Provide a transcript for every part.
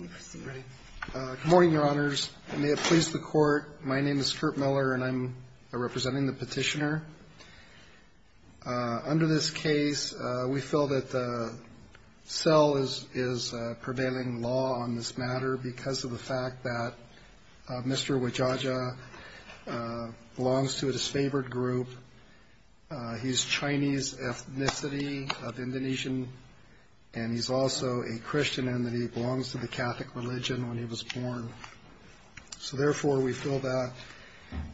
Good morning, Your Honors. May it please the Court, my name is Kurt Miller and I'm representing the petitioner. Under this case, we feel that the cell is prevailing law on this matter because of the fact that Mr. Wijaja belongs to a disfavored group. He's Chinese ethnicity of Indonesian and he's also a Christian and that he belongs to the Catholic religion when he was born. So therefore, we feel that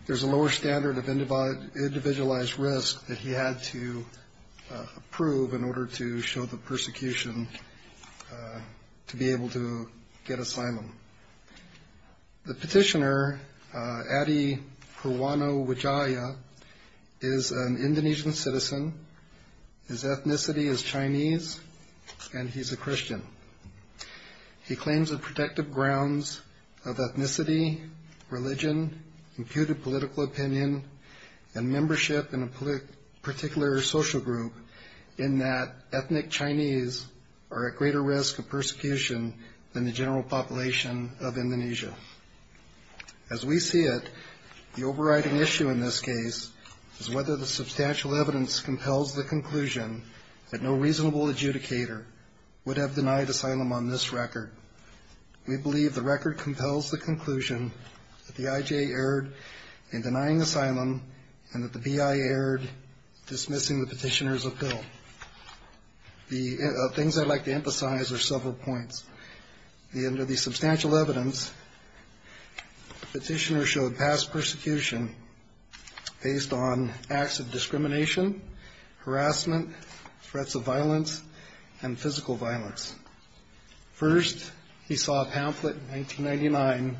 there's a lower standard of individualized risk that he had to approve in order to show the persecution to be able to get asylum. The petitioner, Adi Perwano Wijaya, is an Indonesian citizen. His ethnicity is Chinese and he's a Christian. He claims the protective grounds of ethnicity, religion, imputed political opinion, and membership in a particular social group in that ethnic Chinese are at greater risk of persecution than the general population of Indonesia. As we see it, the overriding issue in this case is whether the substantial evidence compels the conclusion that no reasonable adjudicator would have denied asylum on this record. We believe the record compels the conclusion that the IJ erred in denying asylum and that the BI erred dismissing the petitioner's appeal. The things I'd like to emphasize are several points. Under the substantial evidence, the petitioner showed past persecution based on acts of discrimination, harassment, threats of violence, and physical violence. First, he saw a pamphlet in 1999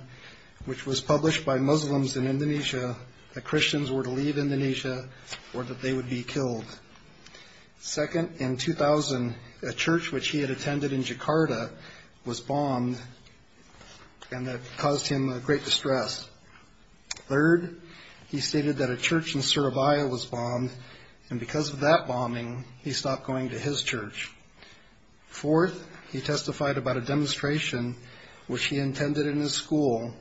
which was published by Muslims in Indonesia that Christians were to leave Indonesia or that they would be killed. Second, in 2000, a church which he had attended in Jakarta was bombed and that caused him great distress. Third, he stated that a church in Surabaya was bombed and because of that bombing, he stopped going to his church. Fourth, he testified about a demonstration which he intended in his school,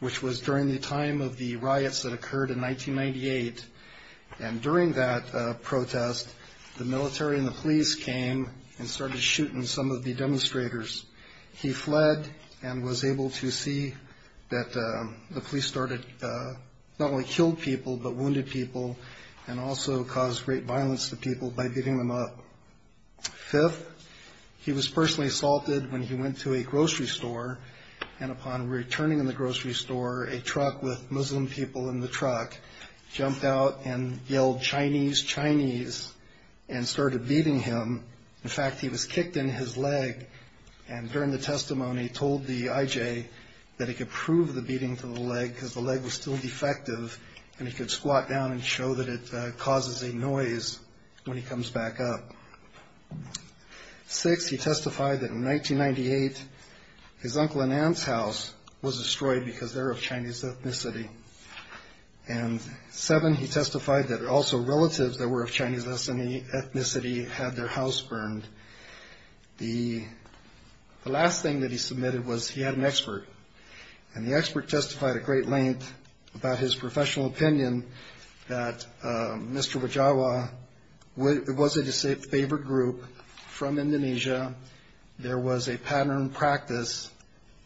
which was during the time of the riots that occurred in 1998. And during that protest, the military and the police came and started shooting some of the demonstrators. He fled and was able to see that the police started not only killed people but wounded people and also caused great violence to people by beating them up. Fifth, he was personally assaulted when he went to a grocery store. And upon returning in the grocery store, a truck with Muslim people in the truck jumped out and yelled, Chinese, Chinese, and started beating him. In fact, he was kicked in his leg. And during the testimony, he told the IJ that he could prove the beating to the leg because the leg was still defective and he could squat down and show that it causes a noise when he comes back up. Six, he testified that in 1998, his uncle and aunt's house was destroyed because they're of Chinese ethnicity. And seven, he testified that also relatives that were of Chinese ethnicity had their house burned. And the last thing that he submitted was he had an expert. And the expert testified at great length about his professional opinion that Mr. Wajawa was a disfavored group from Indonesia. There was a pattern practice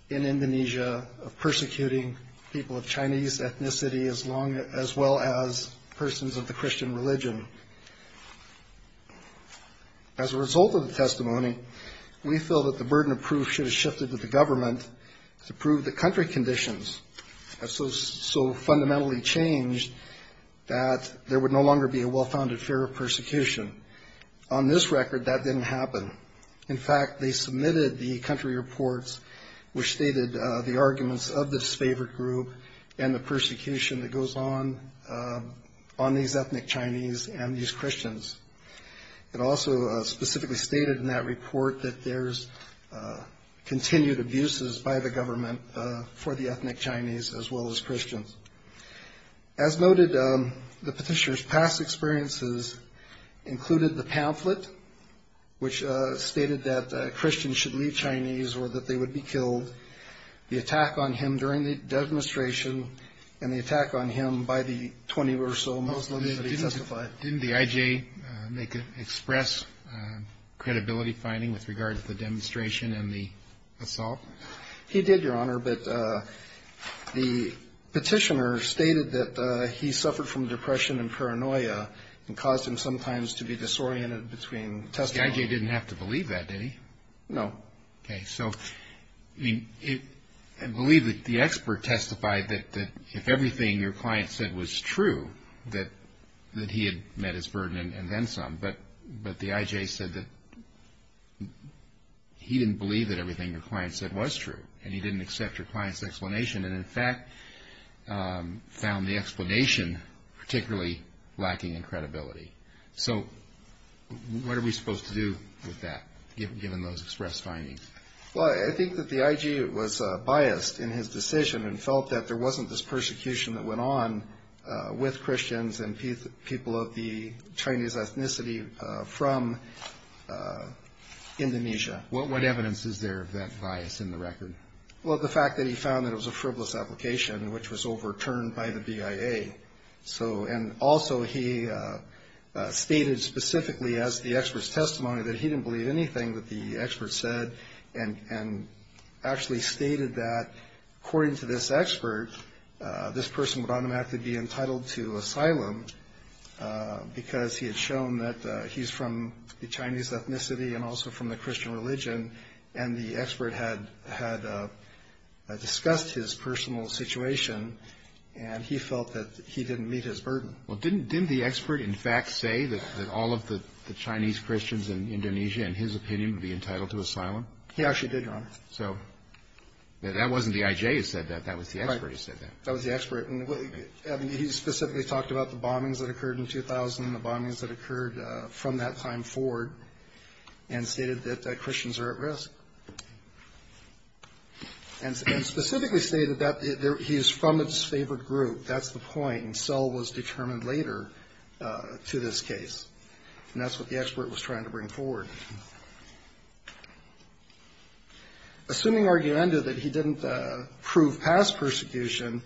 in Indonesia of persecuting people of Chinese ethnicity as well as persons of the Christian religion. As a result of the testimony, we feel that the burden of proof should have shifted to the government to prove that country conditions have so fundamentally changed that there would no longer be a well-founded fear of persecution. On this record, that didn't happen. In fact, they submitted the country reports which stated the arguments of the disfavored group and the persecution that goes on on these ethnic Chinese and these Christians. It also specifically stated in that report that there's continued abuses by the government for the ethnic Chinese as well as Christians. As noted, the petitioner's past experiences included the pamphlet which stated that Christians should leave Chinese or that they would be killed. The attack on him during the demonstration and the attack on him by the 20 or so Muslims that he testified. Didn't the IJ express credibility finding with regard to the demonstration and the assault? He did, Your Honor, but the petitioner stated that he suffered from depression and paranoia and caused him sometimes to be disoriented between testimony. The IJ didn't have to believe that, did he? No. Okay, so I believe that the expert testified that if everything your client said was true, that he had met his burden and then some, but the IJ said that he didn't believe that everything your client said was true and he didn't accept your client's explanation and, in fact, found the explanation particularly lacking in credibility. So what are we supposed to do with that, given those express findings? Well, I think that the IJ was biased in his decision and felt that there wasn't this persecution that went on with Christians and people of the Chinese ethnicity from Indonesia. What evidence is there of that bias in the record? Well, the fact that he found that it was a frivolous application which was overturned by the BIA. And also he stated specifically as the expert's testimony that he didn't believe anything that the expert said and actually stated that according to this expert, this person would automatically be entitled to asylum because he had shown that he's from the Chinese ethnicity and also from the Christian religion and the expert had discussed his personal situation and he felt that he didn't meet his burden. Well, didn't the expert, in fact, say that all of the Chinese Christians in Indonesia, in his opinion, would be entitled to asylum? He actually did, Your Honor. So that wasn't the IJ who said that. That was the expert who said that. That was the expert. He specifically talked about the bombings that occurred in 2000 and the bombings that occurred from that time forward and stated that Christians are at risk. And specifically stated that he is from its favorite group. That's the point. And so it was determined later to this case. And that's what the expert was trying to bring forward. Assuming argumenta that he didn't prove past persecution,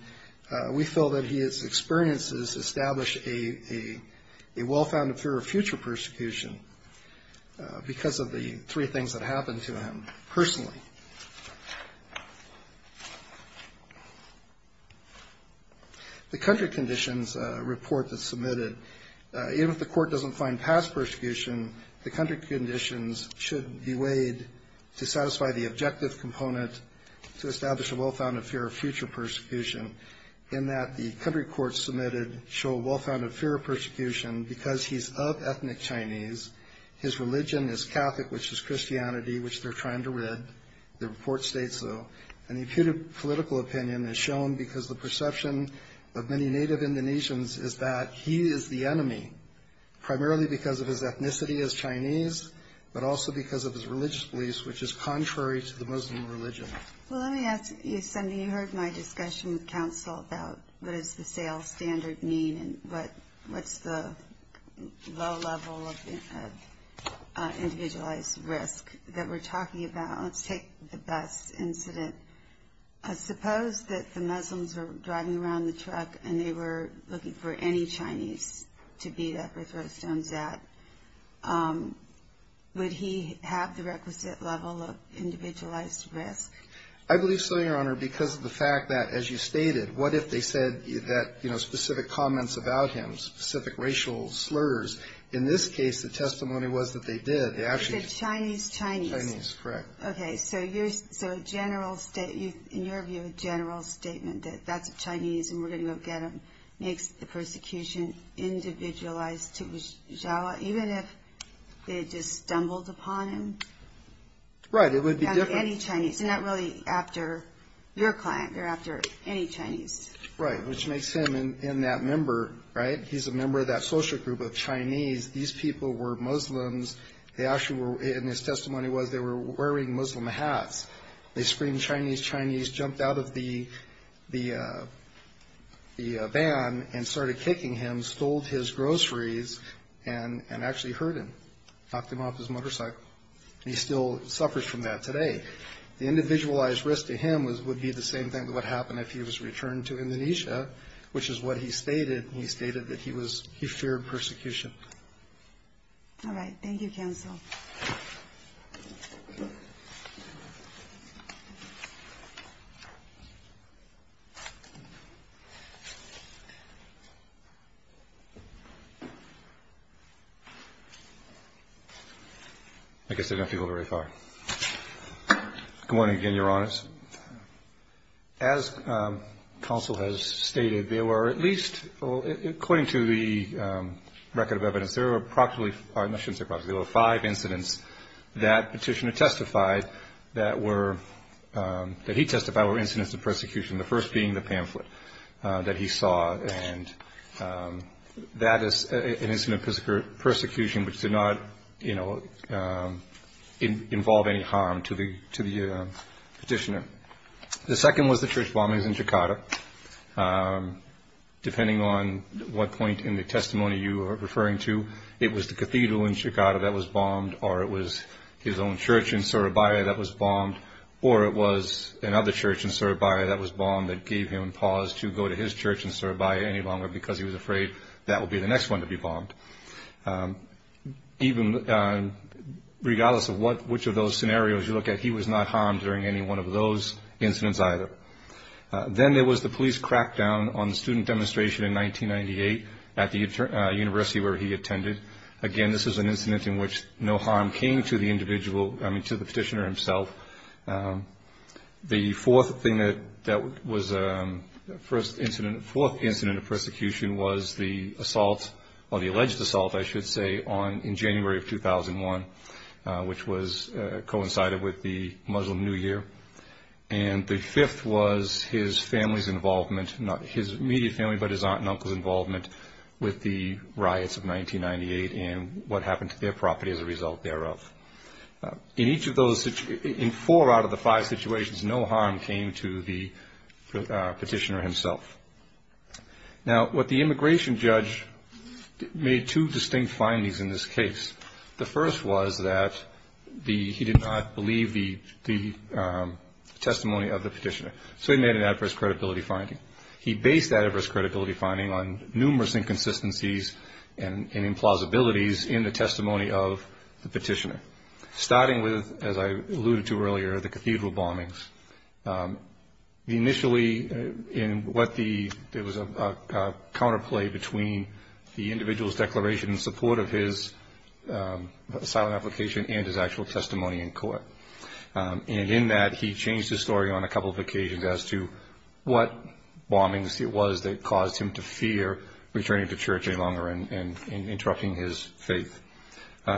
we feel that his experiences established a well-founded fear of future persecution because of the three things that happened to him personally. The country conditions report that's submitted, even if the court doesn't find past persecution, the country conditions should be weighed to satisfy the objective component to establish a well-founded fear of future persecution, in that the country courts submitted show a well-founded fear of persecution because he's of ethnic Chinese. His religion is Catholic, which is Christianity, which they're trying to rid. The report states so. And the political opinion is shown because the perception of many native Indonesians is that he is the enemy, primarily because of his ethnicity as Chinese, but also because of his religious beliefs, which is contrary to the Muslim religion. Well, let me ask you something. You heard my discussion with counsel about what does the sales standard mean and what's the low level of individualized risk that we're talking about. Let's take the bus incident. Suppose that the Muslims were driving around the truck and they were looking for any Chinese to beat up or throw stones at. Would he have the requisite level of individualized risk? I believe so, Your Honor, because of the fact that, as you stated, what if they said that, you know, specific comments about him, specific racial slurs. In this case, the testimony was that they did. They said Chinese, Chinese. Chinese, correct. Okay. So in your view, a general statement that that's a Chinese and we're going to go get him makes the persecution individualized. Even if they just stumbled upon him? Right. It would be different. Any Chinese. Not really after your client. They're after any Chinese. Right. Which makes him in that member, right, he's a member of that social group of Chinese. These people were Muslims. And his testimony was they were wearing Muslim hats. They screamed Chinese, Chinese, jumped out of the van and started kicking him, stole his groceries and actually hurt him, knocked him off his motorcycle. He still suffers from that today. The individualized risk to him would be the same thing that would happen if he was returned to Indonesia, which is what he stated. He stated that he feared persecution. All right. Thank you, counsel. I guess I don't have to go very far. Good morning again, Your Honors. As counsel has stated, there were at least, according to the record of evidence, there were approximately five incidents that petitioner testified that were, that he testified were incidents of persecution, the first being the pamphlet that he saw. And that is an incident of persecution which did not, you know, involve any harm to the petitioner. The second was the church bombings in Jakarta. Depending on what point in the testimony you are referring to, it was the cathedral in Jakarta that was bombed or it was his own church in Surabaya that was bombed or it was another church in Surabaya that was bombed that gave him pause to go to his church in Surabaya any longer because he was afraid that would be the next one to be bombed. Even regardless of which of those scenarios you look at, he was not harmed during any one of those incidents either. Then there was the police crackdown on the student demonstration in 1998 at the university where he attended. Again, this is an incident in which no harm came to the individual, I mean to the petitioner himself. The fourth incident of persecution was the assault, or the alleged assault I should say, in January of 2001 which coincided with the Muslim New Year. And the fifth was his family's involvement, not his immediate family, but his aunt and uncle's involvement with the riots of 1998 and what happened to their property as a result thereof. In four out of the five situations, no harm came to the petitioner himself. Now what the immigration judge made two distinct findings in this case. The first was that he did not believe the testimony of the petitioner. So he made an adverse credibility finding. He based that adverse credibility finding on numerous inconsistencies and implausibilities in the testimony of the petitioner. Starting with, as I alluded to earlier, the cathedral bombings. Initially, there was a counterplay between the individual's declaration in support of his asylum application and his actual testimony in court. And in that, he changed his story on a couple of occasions as to what bombings it was that caused him to fear returning to church any longer and interrupting his faith.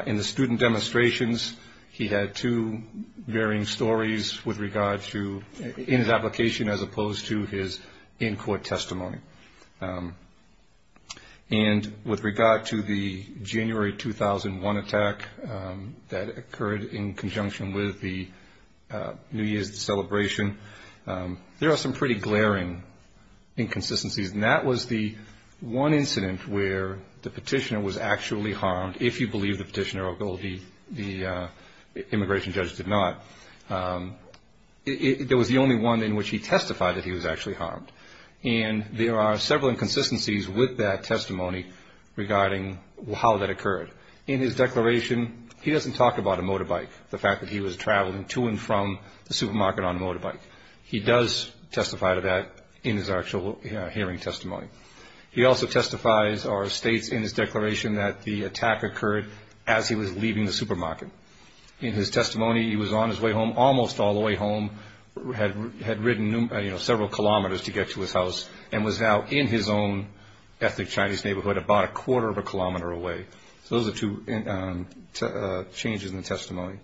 In the student demonstrations, he had two varying stories in his application as opposed to his in court testimony. And with regard to the January 2001 attack that occurred in conjunction with the New Year's celebration, there are some pretty glaring inconsistencies. And that was the one incident where the petitioner was actually harmed, if you believe the petitioner, although the immigration judge did not. It was the only one in which he testified that he was actually harmed. And there are several inconsistencies with that testimony regarding how that occurred. In his declaration, he doesn't talk about a motorbike, the fact that he was traveling to and from the supermarket on a motorbike. He does testify to that in his actual hearing testimony. He also testifies or states in his declaration that the attack occurred as he was leaving the supermarket. In his testimony, he was on his way home, almost all the way home, had ridden several kilometers to get to his house, and was now in his own ethnic Chinese neighborhood about a quarter of a kilometer away. So those are two changes in the testimony.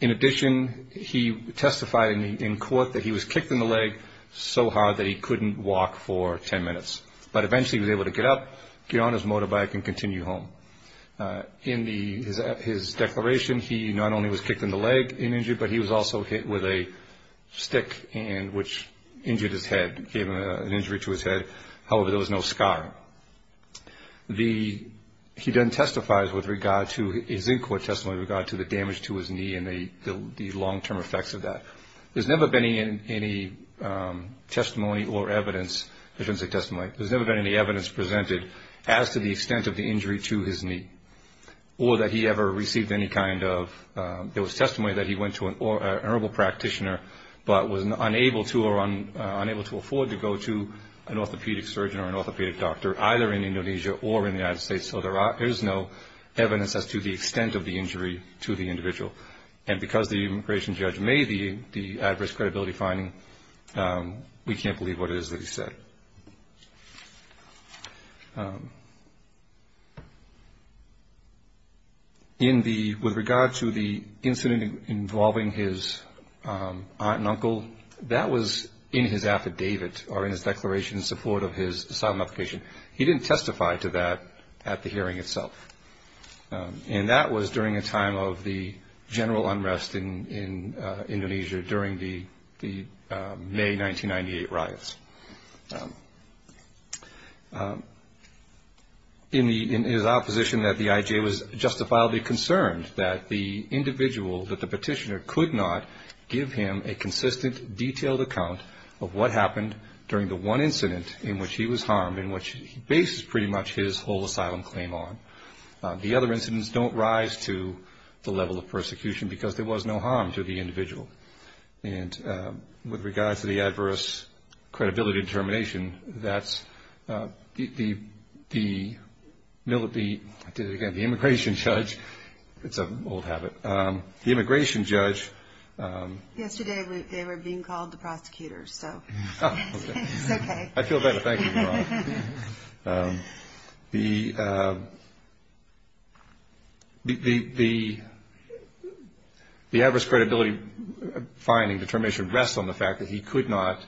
In addition, he testified in court that he was kicked in the leg so hard that he couldn't walk for ten minutes. But eventually he was able to get up, get on his motorbike, and continue home. In his declaration, he not only was kicked in the leg and injured, but he was also hit with a stick which injured his head, gave an injury to his head. However, there was no scar. He then testifies with regard to his in-court testimony with regard to the damage to his knee and the long-term effects of that. There's never been any testimony or evidence, intrinsic testimony, there's never been any evidence presented as to the extent of the injury to his knee, or that he ever received any kind of, there was testimony that he went to an honorable practitioner but was unable to or unable to afford to go to an orthopedic surgeon or an orthopedic doctor, either in Indonesia or in the United States. So there is no evidence as to the extent of the injury to the individual. And because the immigration judge made the adverse credibility finding, we can't believe what it is that he said. With regard to the incident involving his aunt and uncle, that was in his affidavit, or in his declaration in support of his asylum application. He didn't testify to that at the hearing itself. And that was during a time of the general unrest in Indonesia during the May 1998 riots. In his opposition that the IJ was justifiably concerned that the individual, that the petitioner could not give him a consistent, detailed account of what happened during the one incident in which he was harmed and in which he bases pretty much his whole asylum claim on. The other incidents don't rise to the level of persecution because there was no harm to the individual. And with regards to the adverse credibility determination, that's the immigration judge. It's an old habit. The immigration judge. Yesterday they were being called the prosecutors, so it's okay. I feel better. Thank you. The adverse credibility finding determination rests on the fact that he could not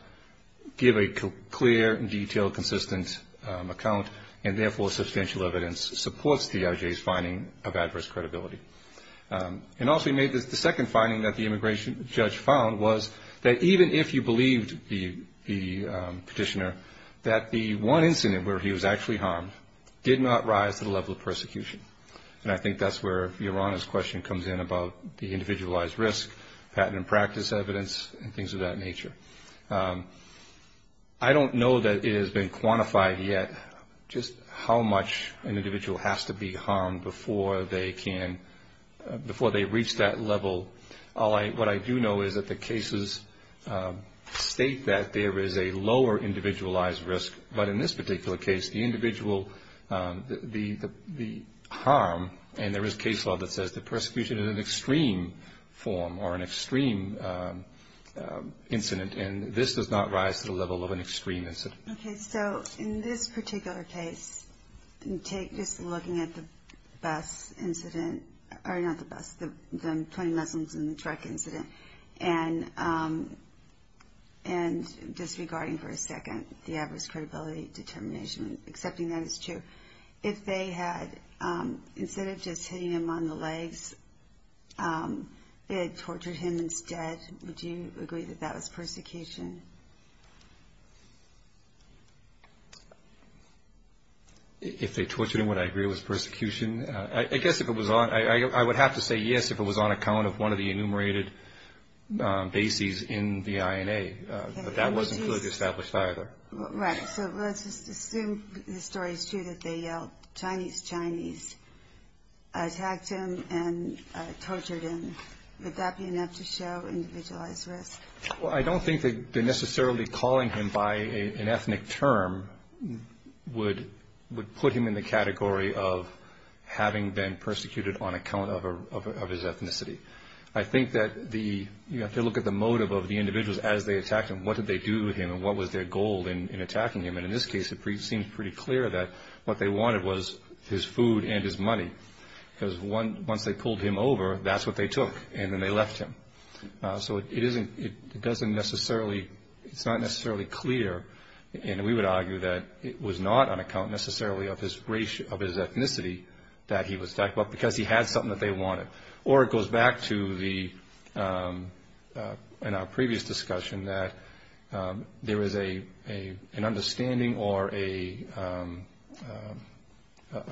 give a clear, detailed, consistent account and, therefore, substantial evidence supports the IJ's finding of adverse credibility. And also he made the second finding that the immigration judge found was that even if you believed the petitioner, that the one incident where he was actually harmed did not rise to the level of persecution. And I think that's where Yorana's question comes in about the individualized risk, patent and practice evidence and things of that nature. I don't know that it has been quantified yet just how much an individual has to be harmed before they can, before they reach that level. What I do know is that the cases state that there is a lower individualized risk, but in this particular case the individual, the harm, and there is case law that says the persecution is an extreme form or an extreme incident, and this does not rise to the level of an extreme incident. Okay. So in this particular case, just looking at the bus incident, or not the bus, the 20 Muslims in the truck incident, and disregarding for a second the adverse credibility determination, accepting that it's true, if they had, instead of just hitting him on the legs, they had tortured him instead, would you agree that that was persecution? If they tortured him, would I agree it was persecution? I guess if it was on, I would have to say yes if it was on account of one of the enumerated bases in the INA, but that wasn't clearly established either. Right. So let's just assume the story is true that they yelled Chinese, Chinese, attacked him and tortured him. Would that be enough to show individualized risk? Well, I don't think that necessarily calling him by an ethnic term would put him in the category of having been persecuted on account of his ethnicity. I think that you have to look at the motive of the individuals as they attacked him. What did they do to him and what was their goal in attacking him? And in this case, it seems pretty clear that what they wanted was his food and his money, because once they pulled him over, that's what they took, and then they left him. So it doesn't necessarily, it's not necessarily clear, and we would argue that it was not on account necessarily of his race, of his ethnicity, that he was attacked, but because he had something that they wanted. Or it goes back to in our previous discussion that there is an understanding or a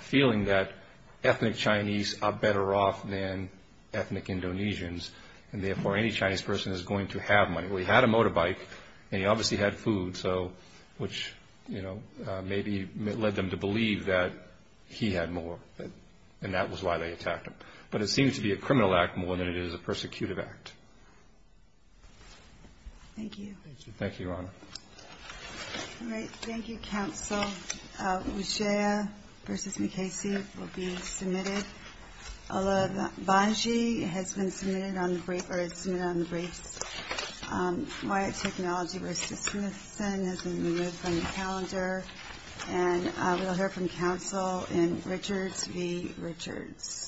feeling that ethnic Chinese are better off than ethnic Indonesians, and therefore any Chinese person is going to have money. Well, he had a motorbike and he obviously had food, which maybe led them to believe that he had more, and that was why they attacked him. But it seems to be a criminal act more than it is a persecutive act. Thank you. Thank you, Your Honor. All right. Thank you, counsel. Wujea v. McKayse will be submitted. Ola Bhanji has been submitted on the briefs. Wyatt Technology v. Smithson has been removed from the calendar. And we'll hear from counsel in Richards v. Richards.